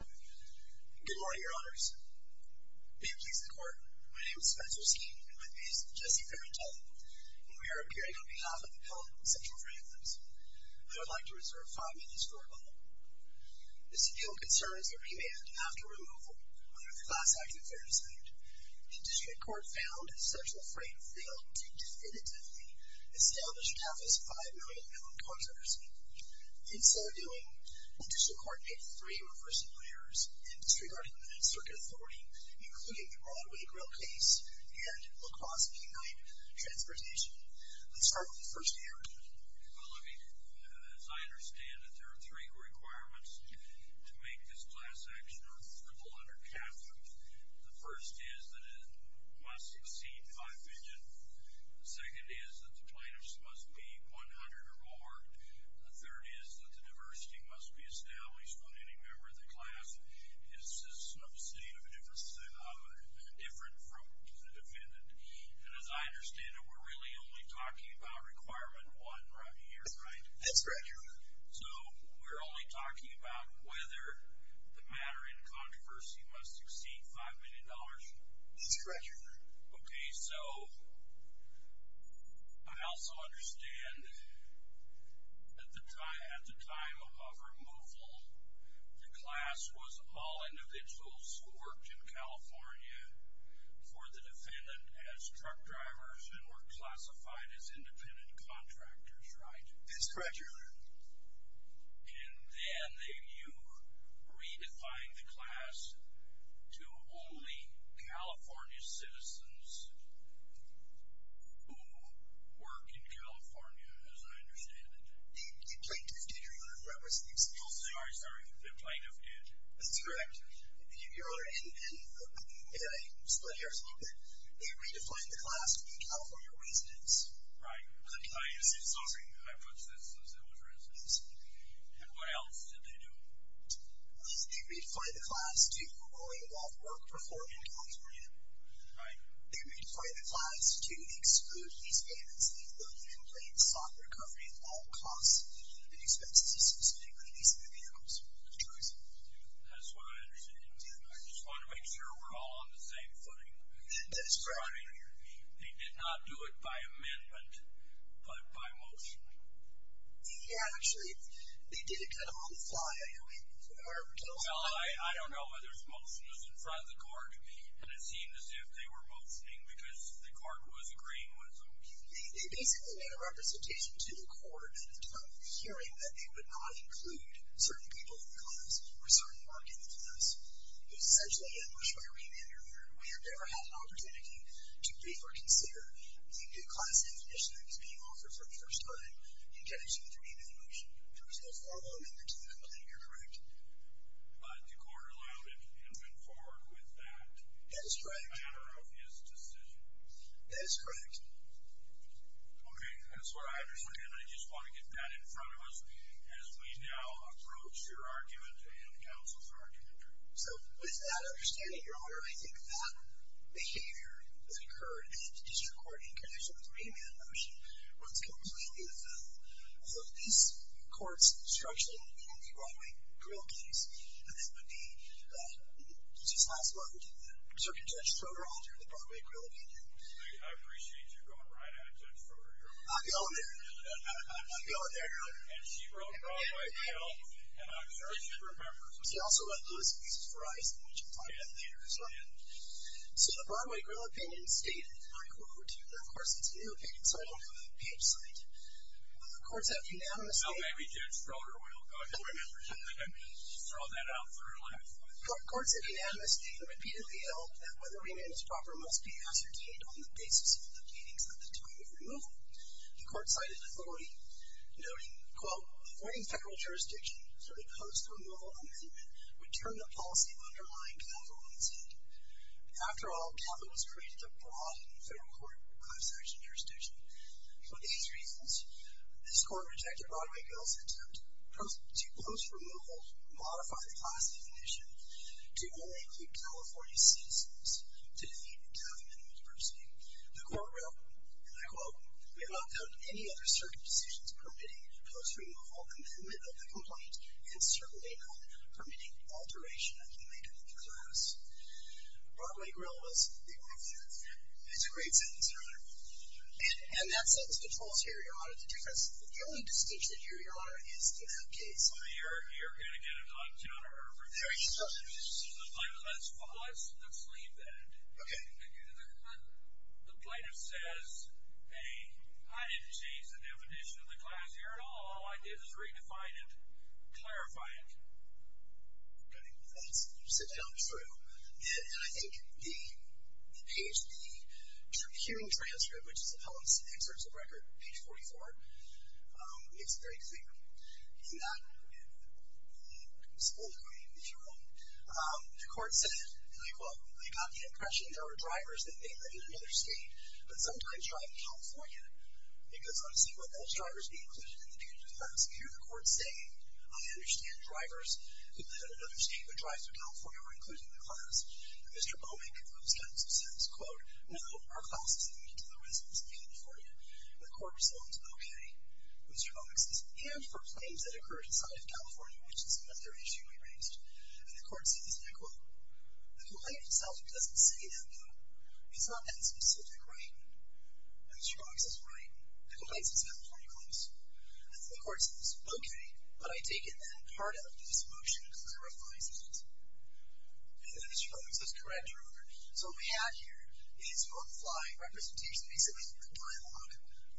Good morning, Your Honors. May it please the Court, my name is Spencer Skeeton, and with me is Jesse Ferrantelli, and we are appearing on behalf of the Pellet and Central Freight Lines. I would like to reserve five minutes for rebuttal. This appeal concerns the remand after removal under the Class Act and Fair Decision. The District Court found that Central Freight failed to definitively establish half its five million-pound contractors. In so doing, the District Court made three reversing errors in disregarding the circuit authority, including the Broadway, Grail Case, and La Crosse P-9 transportation. Let's start with the first error. Well, I mean, as I understand it, there are three requirements to make this class action unfavorable under CAPA. The first is that it must exceed five million. The second is that the plaintiffs must be one hundred or more. The third is that the diversity must be established on any member of the class. This is an obscene and indifferent from the defendant. And as I understand it, we're really only talking about requirement one right here, right? That's correct, Your Honor. So we're only talking about whether the matter in controversy must exceed five million dollars? That's correct, Your Honor. Okay, so I also understand that at the time of removal, the class was all individuals who worked in California for the defendant as truck drivers and were classified as independent contractors, right? That's correct, Your Honor. And then they redefined the class to only California citizens who work in California, as I understand it. The plaintiff did, Your Honor. Oh, sorry, sorry. The plaintiff did. That's correct. Your Honor, and I split hairs a little bit, they redefined the class to be California residents. Right. Sorry, I put this as it was residents. Absolutely. And what else did they do? They redefined the class to only involve work performed in California. Right. They redefined the class to exclude these defendants even though the complaint sought recovery of all costs and expenses associated with these individuals. That's correct, Your Honor. That's what I understand. I just want to make sure we're all on the same footing. That's correct, Your Honor. They did not do it by amendment, but by motion. Yeah, actually, they did it kind of on the fly, I heard. Well, I don't know whether it's motion. It was in front of the court, and it seemed as if they were motioning because the court was agreeing with them. They basically made a representation to the court of hearing that they would not include certain people in the class or certain work in the class. Essentially, it was by remand, Your Honor. We have never had an opportunity to briefly consider the new class definition that was being offered for the first time in connection with remand motion. There was no formal amendment to the complaint, you're correct. But the court allowed it and went forward with that. That is correct. In the manner of his decision. That is correct. Okay, that's what I understand. And I just want to get that in front of us as we now approach your argument and counsel's argument. So, with that understanding, Your Honor, I think that behavior that occurred in the district court in connection with remand motion was completely the fault of these courts structurally in the Broadway Grill case. And that would be, just last one, to the Circuit Judge Froder, the Broadway Grill opinion. I appreciate you going right at Judge Froder, Your Honor. I'm going there. I'm going there, Your Honor. And she wrote Broadway Grill, and I'm sure she remembers. She also wrote Lewis v. Verizon, which we'll talk about later as well. So, the Broadway Grill opinion stated, and I quote, and of course it's a new opinion, so I don't have a page site. Courts have unanimously. No, maybe Judge Froder will go ahead and remember to throw that out for her last time. Courts have unanimously and repeatedly held that whether remand is proper must be ascertained on the basis of the beatings at the time of removal. The court cited authority, noting, quote, avoiding federal jurisdiction for the post-removal amendment would turn the policy of underlying capital on its head. After all, capital was created abroad in federal court by section jurisdiction. For these reasons, this court rejected Broadway Grill's attempt to post-removal modify the class definition to only keep California citizens to the government university. The court wrote, and I quote, we have not found any other circuit decisions permitting post-removal amendment of the complaint and certainly not permitting alteration of the makeup of the class. Broadway Grill was the author. It's a great sentence, Your Honor. And that sentence controls here, Your Honor. The only distinction here, Your Honor, is in that case. You're going to get it on counter-interpretation. Let's leave that. Okay. The plaintiff says, hey, I didn't change the definition of the class here at all. All I did was redefine it, clarify it. Okay. You sit down, it's true. And I think the page, the hearing transcript, which is Appellant's excerpts of record, page 44, it's a great thing. And that is full of great material. The court said, I quote, I got the impression there were drivers that may live in another state but sometimes drive in California. Because I'm seeing one of those drivers be included in the page as well. So here the court's saying, I understand drivers who live in another state but drive through California are included in the class. And Mr. Bowman concludes that in some sense. Quote, no, our class is limited to the residents of California. And the court responds, okay. And Mr. Bowman says, and for claims that occur inside of California, which is another issue we raised. And the court says, I quote, the complaint itself doesn't say that, though. It's not that specific, right? And Mr. Bowman says, right. The complaint itself is pretty close. And the court says, okay. But I take it that part of this motion clarifies it. And then Mr. Bowman says, correct, your Honor. So what we have here is on the fly representation, basically the dialogue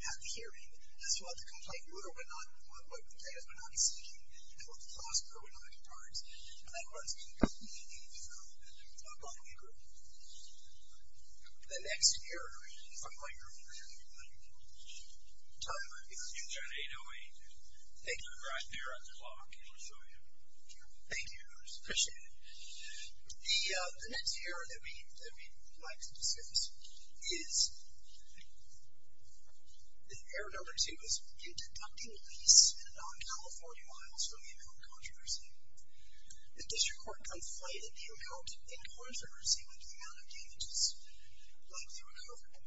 at the hearing as to what the complaint were, what the plaintiff would not be seeking, and what the clause were, what all that imparts. And that runs completely through the following group. The next hearing, if I might, Your Honor. Tell me about the hearing. It's at 8.08. Thank you. It's right there on the clock, and we'll show you. Thank you. I appreciate it. The next hearing that we'd like to discuss is, hearing number two is, in deducting lease in non-California miles from the amount of controversy. The district court conflated the amount in controversy with the amount of damages likely recoverable.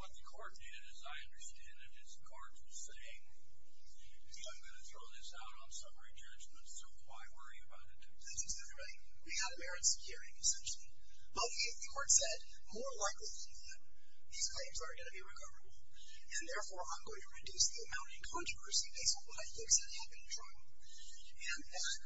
What the court did, as I understand it, is the court was saying, I'm going to throw this out on summary judgment, so why worry about it too much. That's exactly right. We had a merit securing, essentially. But the court said, more likely than not, these claims are going to be recoverable, and therefore I'm going to reduce the amount in controversy based on what I think is going to happen in trial. And that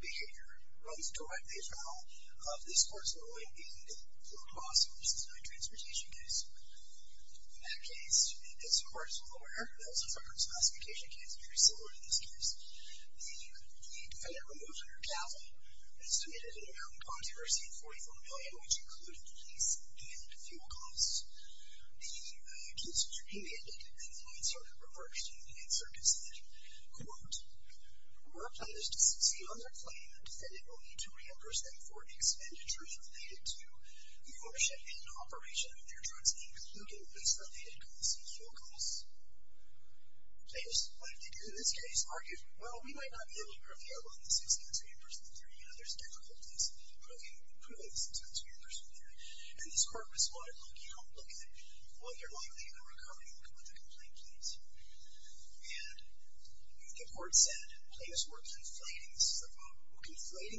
behavior runs directly out of this court's ruling being the fuel cost versus non-transportation case. In that case, the district court's lawyer, that was a federal classification case very similar to this case, the defendant removed her capital and submitted an amount in controversy of $44 million, which included the lease and fuel costs. The case was remanded, and the case was reversed in circuit session. Quote, our plan is to succeed under claim that the defendant will need to reimburse them for expenditures related to the ownership and operation of their trucks including lease-related costs and fuel costs. What did they do in this case? Argued, well, we might not be able to review all of this expense reimbursement theory, and there's difficulties, but we can put all this expense reimbursement theory. And this court responded, look, while you're lying to me, I'm recovering with a complaint, please. And the court said, plaintiffs were conflating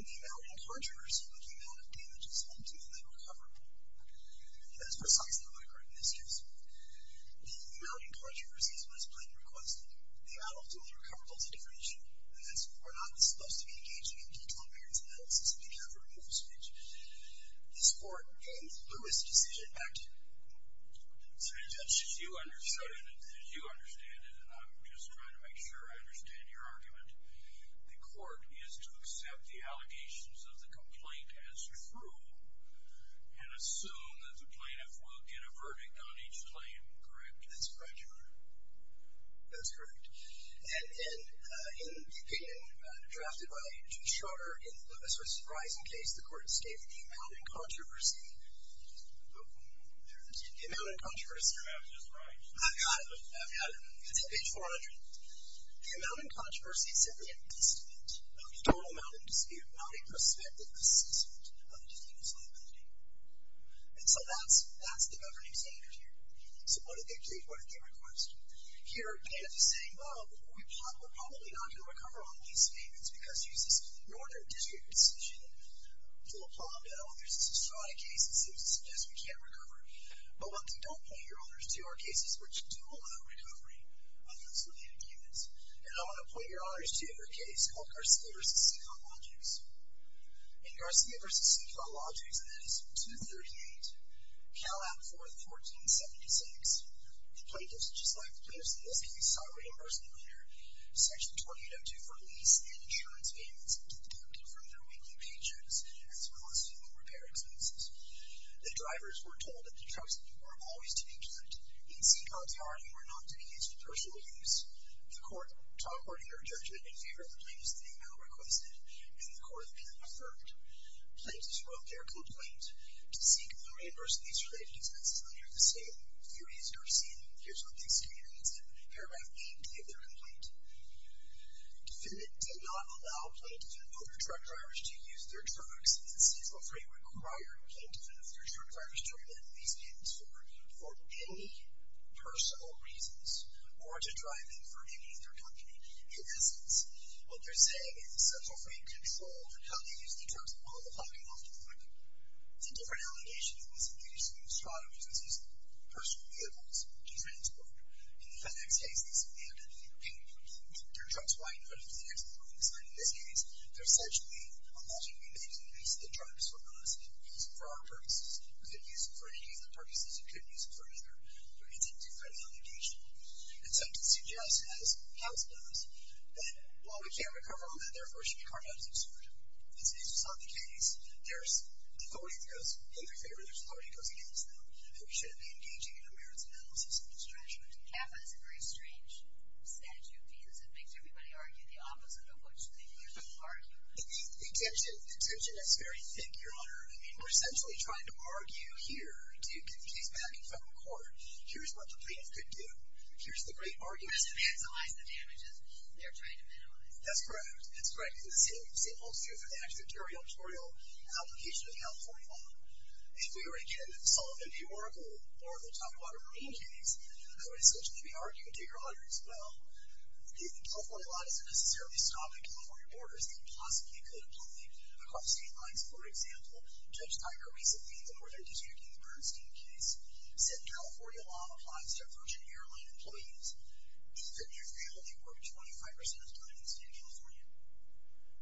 the amount in controversy with the amount of damages ultimately recoverable. And that's precisely what occurred in this case. The amount in controversy is what his plan requested. The amount ultimately recoverable is a different issue. And that's, we're not supposed to be engaging in detailed variance analysis if you have a removal speech. This court gained Lewis' decision, back to you. As you understand it, and I'm just trying to make sure I understand your argument, the court is to accept the allegations of the complaint as true and assume that the plaintiff will get a verdict on each claim, correct? That's correct, Your Honor. That's correct. And in the opinion drafted by Judge Schroeder, in the Lewis v. Verizon case, the court stated the amount in controversy, there it is, the amount in controversy. I've got it, I've got it. It's page 400. The amount in controversy is simply a testament of the total amount in dispute, not a prospective assessment of the defendant's liability. And so that's the governing standard here. So what did they do, what did they request? Here, the plaintiff is saying, well, we're probably not going to recover on these payments because it uses the Northern District decision to apply them to others. It's a strata case, it simply suggests we can't recover. But what they don't point, Your Honor, is to our cases which do allow recovery on those related units. And I want to point, Your Honor, is to a case called Garcia v. Seacrow Logics. In Garcia v. Seacrow Logics, and that is 238 Calab 4th, 1476, the plaintiff's just like the plaintiff's in this case, sought reimbursement later. Section 2802 for lease and insurance payments deducted from their weekly paychecks as well as fuel repair expenses. The drivers were told that the trucks were always to be parked in Seacrow's yard and were not to be used for personal use. The court, according to their judgment, in favor of the plaintiff's thing, now requested, and the court then affirmed. Plaintiffs wrote their complaint to Seacrow to reimburse these related expenses under the same theory as Garcia. And here's what the executives in Paragraph 8 gave their complaint. Defendant did not allow plaintiffs and other truck drivers to use their trucks. And Seacrow Free required plaintiffs and other truck drivers to remit these payments for any personal reasons or to drive them for any other company. In essence, what they're saying is Seacrow Free controlled how they used the trucks on the parking lot for the week. It's a different allegation. The plaintiff was engaged to use trucks as his personal vehicles to transport. In the defendant's case, these vehicles were paid for. Their trucks were identified as the next moving sign in this case. They're essentially allegedly made to use the trucks for us, for our purposes. You could use them for any of the purposes you could use them for, either. But it's a different allegation. And so it suggests, as House does, that while we can't recover all that, therefore, should be carned out as absurd. This is just not the case. There's authority that goes in favor and there's authority that goes against them. And we shouldn't be engaging in a merits analysis of this tragedy. Kappa is a very strange statute, because it makes everybody argue the opposite of what they usually argue. The tension is very thick, Your Honor. We're essentially trying to argue here to get the case back in federal court. Here's what the plaintiff could do. Here's the great argument. To vandalize the damages they're trying to minimize. That's correct. That's correct. And the same holds true for the actual territorial application of the California law. If we were, again, solving the Oracle Toughwater Marine case, I would essentially be arguing to Your Honor, as well, that the California law doesn't necessarily stop at California borders. It possibly could apply across state lines. For example, Judge Tiger recently, in the Northern Kentucky Bernstein case, said California law applies to Virgin Airline employees. If in your field, you work 25% of the time in the state of California,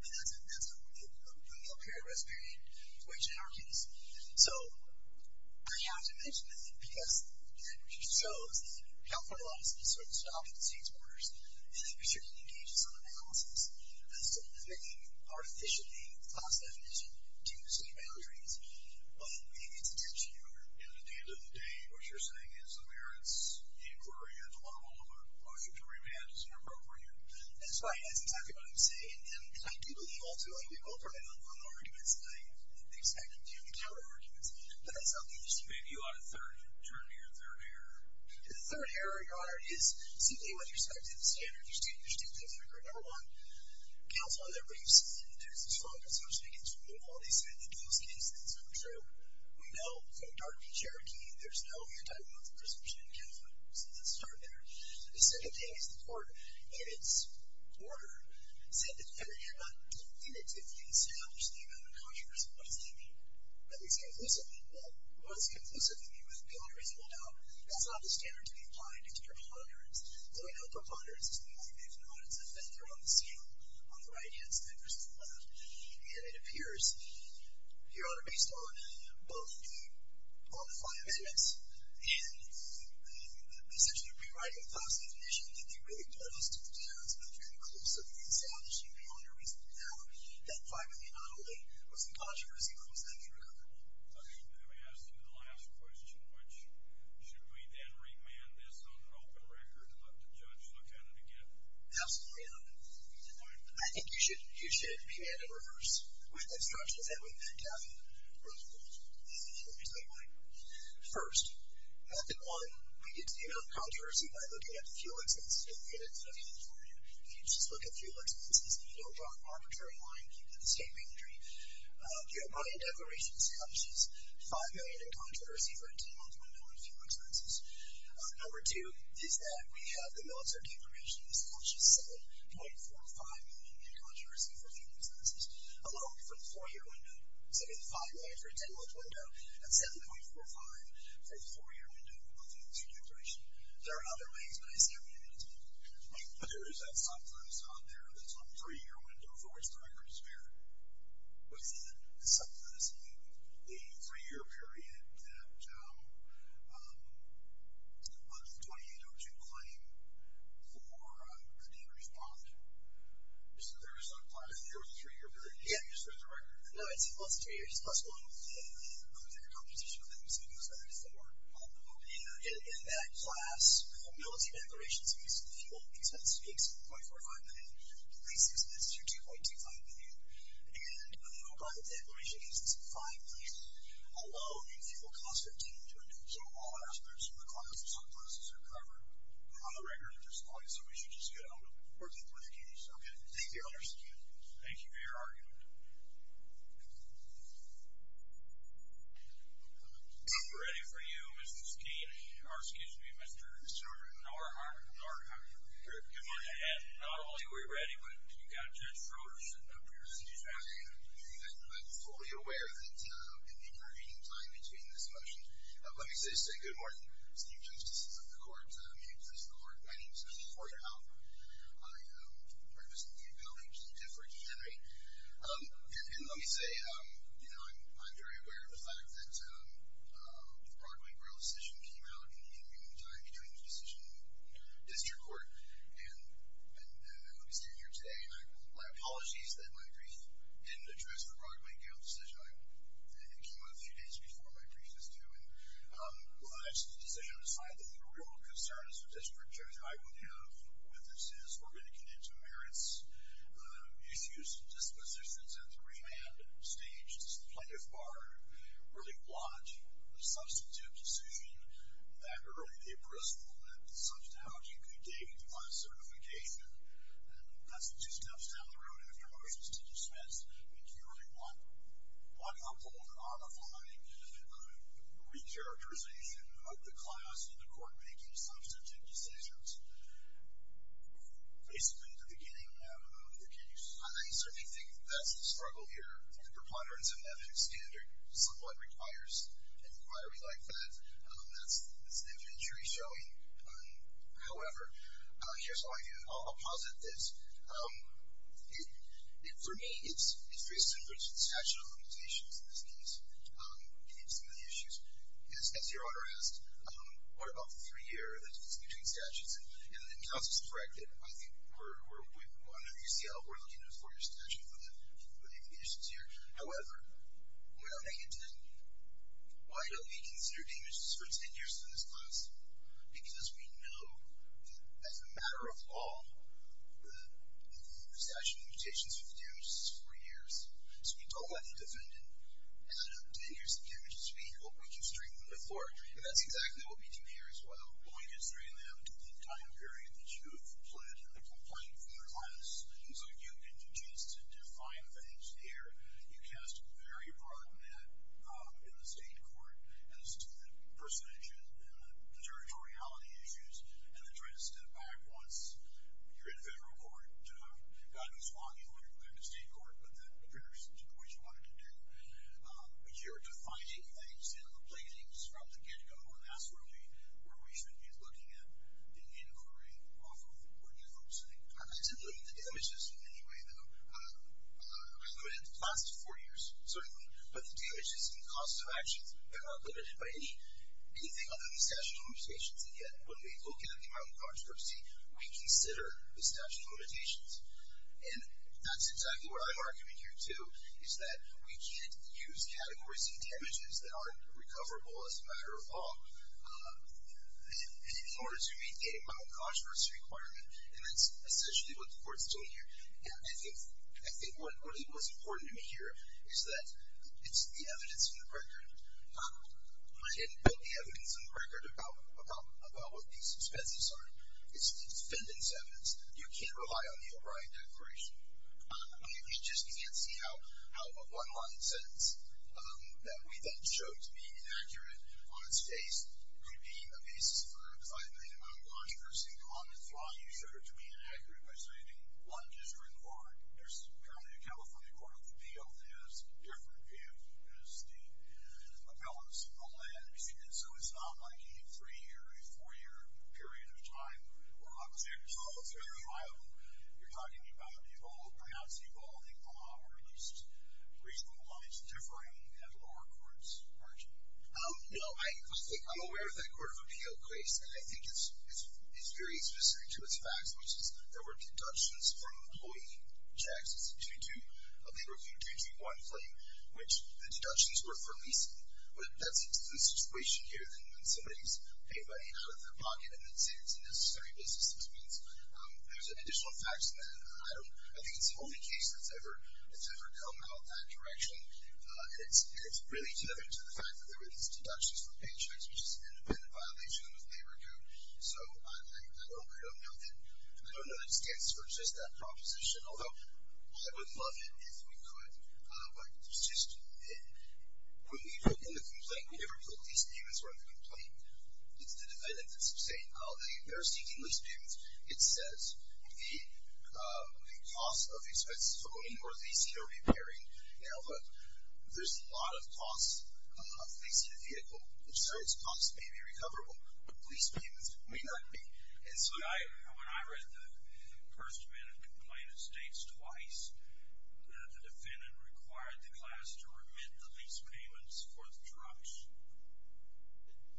that's a no-paragraph period, which in our case. So I have to mention that, because it shows that the California law doesn't necessarily stop at the state's borders. And it certainly engages on analysis. So I'm making an artificially false definition due to state boundaries. But maybe it's a tension, Your Honor. At the end of the day, what you're saying is that there is inquiry. And while you can remand, it's inappropriate. That's right. That's exactly what I'm saying. And I do believe, ultimately, we've all heard it on the arguments. And I expect it to be on the counter-arguments. But that's not the issue. Maybe you ought to turn to your third error. The third error, Your Honor, is simply what you're saying to the standard. You're stating things like, number one, counsel on their briefs. And there's this focus, so to speak, on the quality side of the appeals case. And it's not true. We know from the Dartmouth-Cherokee, there's no anti-monthly presumption in California. So let's start there. The second thing is the court, in its order, said that if you establish the amount of consumers, what does that mean? At least, inclusively. Well, what does inclusively mean? Well, there's no reasonable doubt. That's not the standard to be applied. It's a preponderance. And we know preponderance is the only thing. It's not. It's a vector on the scale, on the right-hand side versus the left. And it appears, Your Honor, based on both the five amendments and, essentially, rewriting the file's definition, that they really don't ask to the judge, but very inclusively establishing the amount of reasonable doubt that $5 million not only was in controversy, but was not true. Let me ask you the last question, which should we then remand this on an open record and let the judge look at it again? Absolutely, Your Honor. I think you should remand it in reverse with instructions that we've backed out of. Really cool. Let me tell you why. First, method one, we get to the amount of controversy by looking at the fuel expenses. And again, it's nothing new for you. If you just look at fuel expenses and you don't draw an arbitrary line, you get the same re-entry. Your bond declaration establishes $5 million in controversy for a 10-month window on fuel expenses. Number two is that we have the military declaration which establishes $7.45 million in controversy for fuel expenses, alone for the 4-year window, saving $5 million for a 10-month window, and $7.45 million for a 4-year window on fuel expense declaration. There are other ways, but I said we didn't need to look at it. But there is that subclause on there, that's on the 3-year window for which the record is spared, within the subclause of the 3-year period that under the 28.02 claim for a dangerous bond. So there's a clause on the 3-year period where you just spare the record. No, it's plus 3 years, plus one for the competition that we saw before on the opening. In that class, the military declaration establishes the fuel expenses being $7.45 million, the lease expenses being $2.25 million, and the new bond declaration establishes $5 million alone in fuel costs that didn't do anything. So all aspects of the clause in subclause are covered on the record and disemployed, so we should just get on with working with the case. Okay, thank you. Thank you for your argument. We're ready for you, Mr. Skeen, or excuse me, Mr. Norhart. Norhart. Good morning. And not only are we ready, but you've got Judge Schroeder sitting up here. I'm fully aware that in the intervening time between this motion... Let me just say good morning. Steve Jones, Justice of the Court, Mute Justice of the Court. My name's Corey Halpern. I represent the appellee, Jean Diffridge Henry. And let me say, you know, I'm very aware of the fact that the Broadway Grille decision came out in the intervening time between the decision in the district court, and I hope you stand here today, and my apologies that my brief didn't address the Broadway Grille decision. It came out a few days before my brief was due, but the decision was signed, and the real concern as a district judge, I would have with this is, we're going to get into merits, issues, dispositions, and three-man stages, the plaintiff bar, really want a substantive decision that early be appraisable, and substantiality could be gained by certification, and that's two steps down the road after motions to dismiss, and clearly one uphold, and on the fine, re-characterization of the clause in the court making substantive decisions, basically at the beginning of the case. I certainly think that's the struggle here. The preponderance of ethics standard somewhat requires an inquiry like that. That's the inventory showing. However, here's what I do. I'll posit this. For me, it's very similar to the statute of limitations in this case. We can get into some of the issues. As your Honor asked, what about the three-year, the difference between statutes, and counsel's correct that I think we're, under UCL, we're looking at a four-year statute for the implications here. However, when I get to that, why don't we consider damages for 10 years to this class? Because we know that as a matter of law, the statute of limitations for the damages is four years, so we don't let you defend it, and then after 10 years of damages, we hope we can straighten them before, and that's exactly what we do here as well. Why don't we consider it in that complete time period that you've pled in the complaint for your class, and so you get the chance to define things here. You cast a very broad net in the state court as to the percentage and the territoriality issues, and then try to step back once you're in federal court to have gotten a swathe in order to go to state court, but that appears to be what you wanted to do, but you're defining things in the pleadings from the get-go, and that's really where we should be looking at the inquiry off of what you folks think. I didn't limit the damages in any way, though. I limited the class to four years, certainly, but the damages and costs of actions, they're not limited by anything other than the statute of limitations, and yet when we look at the amount of controversy, we consider the statute of limitations, and that's exactly what I'm arguing here, too, is that we can't use categories of damages that aren't recoverable as a matter of law in order to meet the amount of controversy requirement, and that's essentially what the court's doing here, and I think what's important to me here is that it's the evidence in the record. I didn't put the evidence in the record about what these suspensives are. It's defendant's evidence. You can't rely on the O'Brien Declaration. You just can't see how a one-line sentence that we then show to be inaccurate on its face could be the basis for defining the amount of controversy in the law, and you show it to be inaccurate by saying one district court. There's currently a California court on the field that has a different view as the appellants of the land, and so it's not like a three-year, a four-year period of time where I was there. It's very viable. You're talking about perhaps evolving law or at least regionalized differing and lower courts, aren't you? No, I think I'm aware of that Court of Appeal case, and I think it's very specific to its facts, which is there were deductions from employee checks. It's a 2-2, a labor code 2-2-1 claim, which the deductions were for leasing. That's a different situation here than when somebody's paying money out of their pocket and then saying it's a necessary business experience. There's additional facts in that, and I think it's the only case that's ever come out that direction, and it's really to do with the fact that there were these deductions for paychecks, which is an independent violation of labor code. So I don't know that it stands to resist that proposition, although I would love it if we could, but it's just... When we wrote in the complaint, we never told the lease payments were in the complaint. It's the defendant that's saying, oh, they're seeking lease payments. It says the cost of expensive owning or leasing or repairing. Now, look, there's a lot of costs of leasing a vehicle, and certain costs may be recoverable, but lease payments may not be. And so when I read the first-minute complaint, it states twice that the defendant required the class to remit the lease payments for the trucks.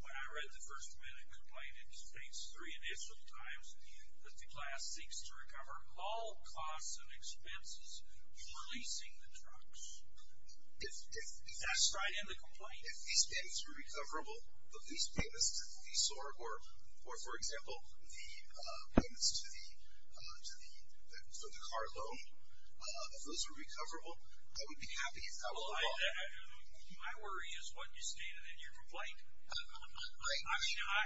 When I read the first-minute complaint, it states three initial times that the class seeks to recover all costs and expenses for leasing the trucks. That's right in the complaint. If lease payments were recoverable, the lease payments would be sought, or, for example, the payments for the car loan, if those were recoverable, I would be happy if that was sought. My worry is what you stated in your complaint. I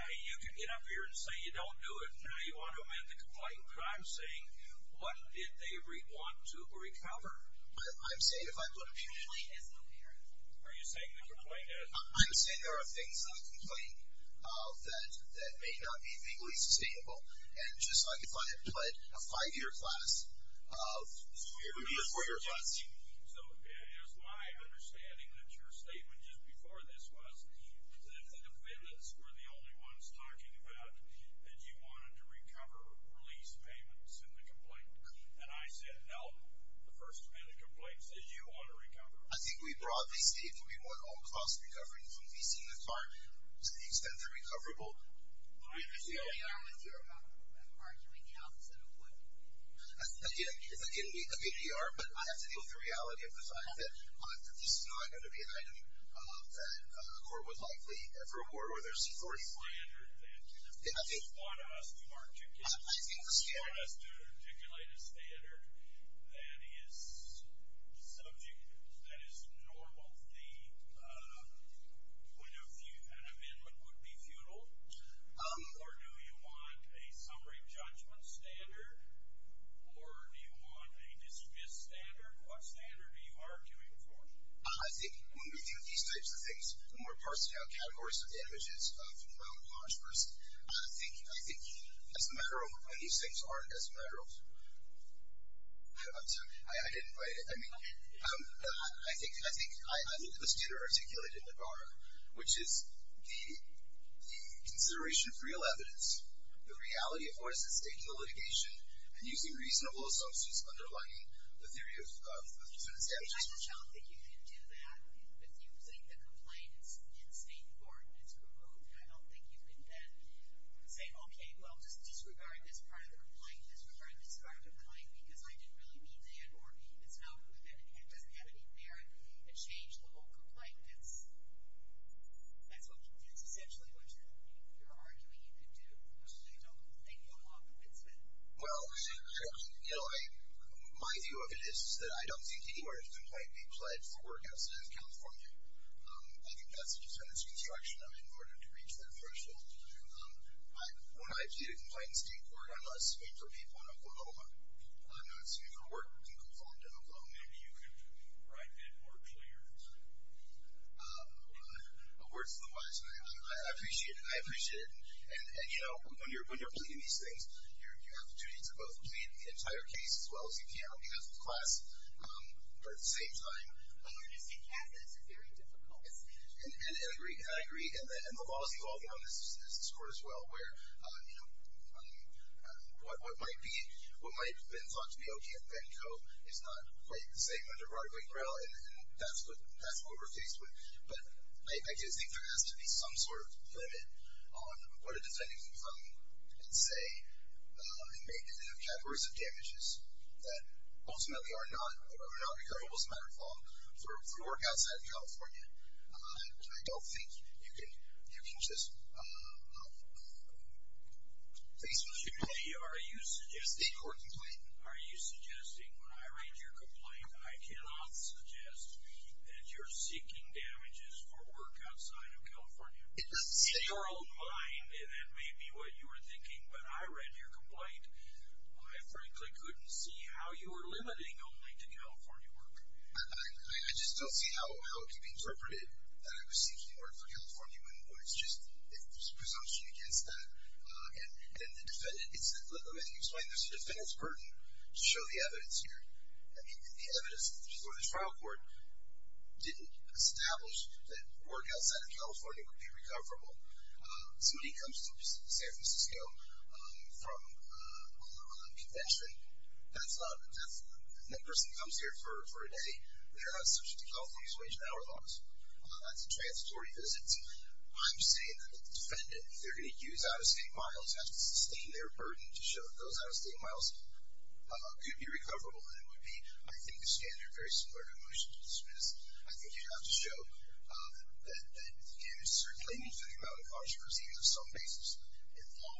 mean, you can get up here and say you don't do it, and now you want to amend the complaint, but I'm saying what did they want to recover? I'm saying if I put a... Are you saying the complaint... I'm saying there are things in the complaint that may not be legally sustainable, and just like if I had put a five-year class, it would be a four-year class. So it is my understanding that your statement just before this was that the defendants were the only ones talking about that you wanted to recover lease payments in the complaint, and I said no. The first-minute complaint says you want to recover. I think we broadly stated we want all costs recovered from leasing the car to the extent they're recoverable. I understand you're arguing the opposite of what... Again, it's a PDR, but I have to deal with the reality of this. I have to at least know I'm going to be an item that the court would likely ever award, whether it's C-40. ...standard that you want us to articulate. I think the standard... You want us to articulate a standard that is subject, that is normal, when an amendment would be futile, or do you want a summary judgment standard, or do you want a dismissed standard? What standard are you arguing for? I think when we deal with these types of things, the more parsed-down categories of damages, I think as a matter of... These things are as a matter of... I'm sorry, I didn't quite... I think the standard articulated in the BAR, which is the consideration of real evidence, the reality of what is at stake in the litigation, and using reasonable assumptions underlining the theory of dismissed damages. I don't think you can do that with using the complaint in state court, and it's removed. I don't think you can then say, disregard this part of the complaint, because I didn't really mean that, or it doesn't have any merit, and change the whole complaint. That's what you... That's essentially what you're arguing you could do, which I don't think you'll want, but it's been... Well, you know, my view of it is that I don't think anywhere in state court a complaint may be pled for work outside of California. I think that's a defense construction in order to reach that threshold. But when I plead a complaint in state court, I'm not speaking for people in Oklahoma. I'm not speaking for work in Oklahoma. Maybe you could write that more clearly. Words to the wise. I appreciate it. I appreciate it. And, you know, when you're pleading these things, you have the opportunity to both plead the entire case, as well as you can, because it's class, but at the same time... But when you're just a candidate, it's very difficult. And I agree. And the law is evolving on this court, as well, where, you know, what might be... what might have been thought to be okay at Benko is not quite the same under Broadway Trial, and that's what we're faced with. But I do think there has to be some sort of limit on what a defendant can come and say and make in the categories of damages that ultimately are not recoverable, as a matter of law, for work outside of California. I don't think you can just... Thanks. Judy, are you suggesting... State court complaint. Are you suggesting when I read your complaint, I cannot suggest that you're seeking damages for work outside of California? In your own mind, and that may be what you were thinking, when I read your complaint, I frankly couldn't see how you were limiting only to California work. I just don't see how it could be interpreted that I was seeking work for California when it's just presumption against that. And then the defendant... You explained there's a defendant's burden to show the evidence here. I mean, the evidence before this trial court didn't establish that work outside of California would be recoverable. Somebody comes to San Francisco from a convention. That's not... That person comes here for a day. They're not subject to California's range of hour laws. That's a transitory visit. I'm saying that the defendant, if they're going to use out-of-state miles, has to sustain their burden to show that those out-of-state miles could be recoverable. And it would be, I think, a standard, very similar to a motion to dismiss. I think you'd have to show that you certainly need to think about a caution proceeding on some basis in law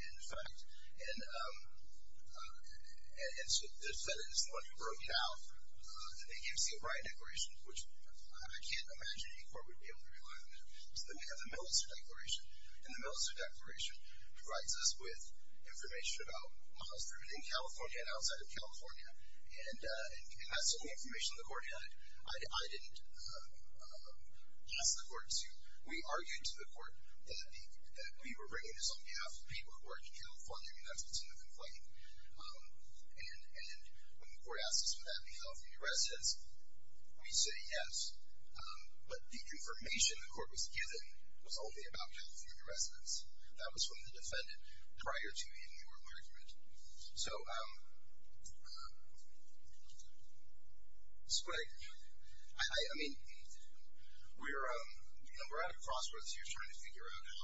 and in fact. And so the defendant is the one who broke it out. They can't see it right in decorations, which I can't imagine any court would be able to rely on that. So then we have the Millicent Declaration, and the Millicent Declaration provides us with information about miles driven in California and outside of California. And that's the only information the court had. I didn't ask the court to... We argued to the court that we were bringing this on behalf of people who are in California, and that's what's in the complaint. And when the court asked us for that, the California residents, we say yes. But the information the court was given was only about California residents. That was from the defendant prior to the in-court argument. So... It's what I... I mean... We're at a crossroads here trying to figure out how...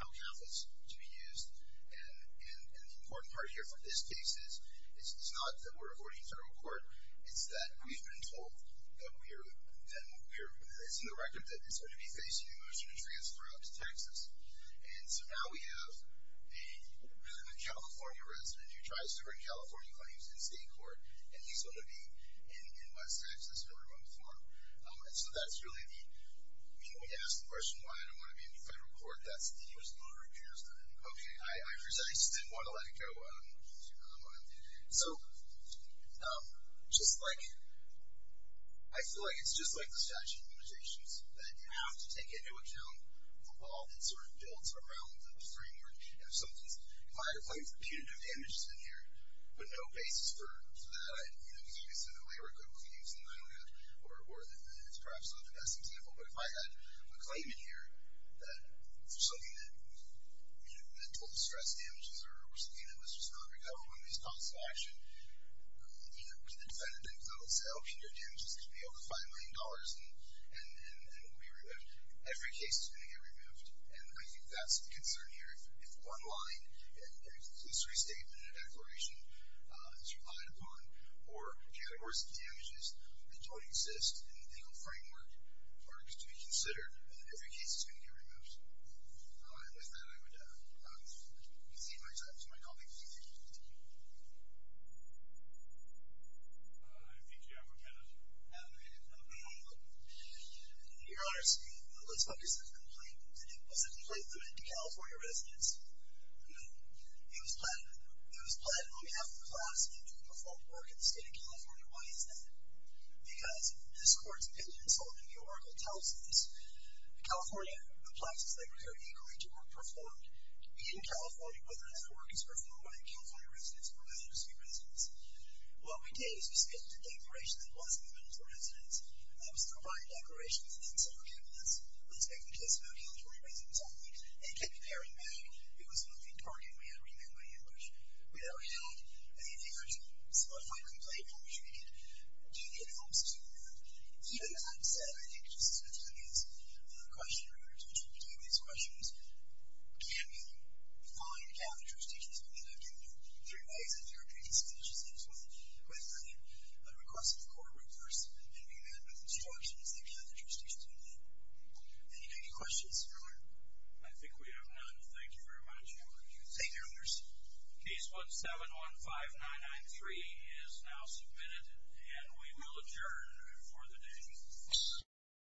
how count is to be used. And the important part here for this case is it's not that we're avoiding federal court. It's that we've been told that we're... It's in the record that it's going to be facing a motion to transfer out to Texas. And so now we have a California resident who tries to bring California claims in state court, and he's going to be in West Texas in a remote farm. And so that's really the... I mean, when you ask the question, why I don't want to be in the federal court, that's the U.S. law requires that. Okay, I just didn't want to let it go. So... Just like... I feel like it's just like the statute of limitations, that you have to take into account the law that sort of builds around the framework of some of these... If I apply for punitive damages in here with no basis for that, I'd, you know, be facing a labor court claim that I don't have, or that's perhaps not the best example. But if I had a claim in here that something that, you know, mental distress damages or something that was just not recoverable in these calls to action, you know, to the defendant, I would say, oh, punitive damages could be over $5 million and will be removed. Every case is going to get removed. And I think that's the concern here. If one line, a conclusory statement, a declaration is relied upon, or categories of damages that don't exist in the legal framework are to be considered, then every case is going to get removed. All right. With that, I would concede my time to my colleague. Thank you. I think you have a minute. I have a minute. Your Honor, let's focus on the complaint. Was the complaint limited to California residents? No. It was pled on behalf of the class and to the performed work in the state of California. Why is that? Because this court's opinion in the Oracle tells us that California applies its legality according to work performed. In California, whether that work is performed by the California residents or by the state residents. What we did is we submitted the declaration that was limited to the residents. I was still buying declarations and then said, okay, let's make the case about California residents only. And it kept appearing back. It was a moving target. We had to remain by English. We never had an actual solidified complaint from which we could get help. Even with that said, I think just as much as any other questioner or judge will be doing these questions, can you find California jurisdictions that have been through three days of therapy to finish this case with a request that the court reverse and do that with instructions that California jurisdictions do not. Any questions, Your Honor? I think we have none. Thank you very much. Case 1715993 is now submitted and we will adjourn for the day.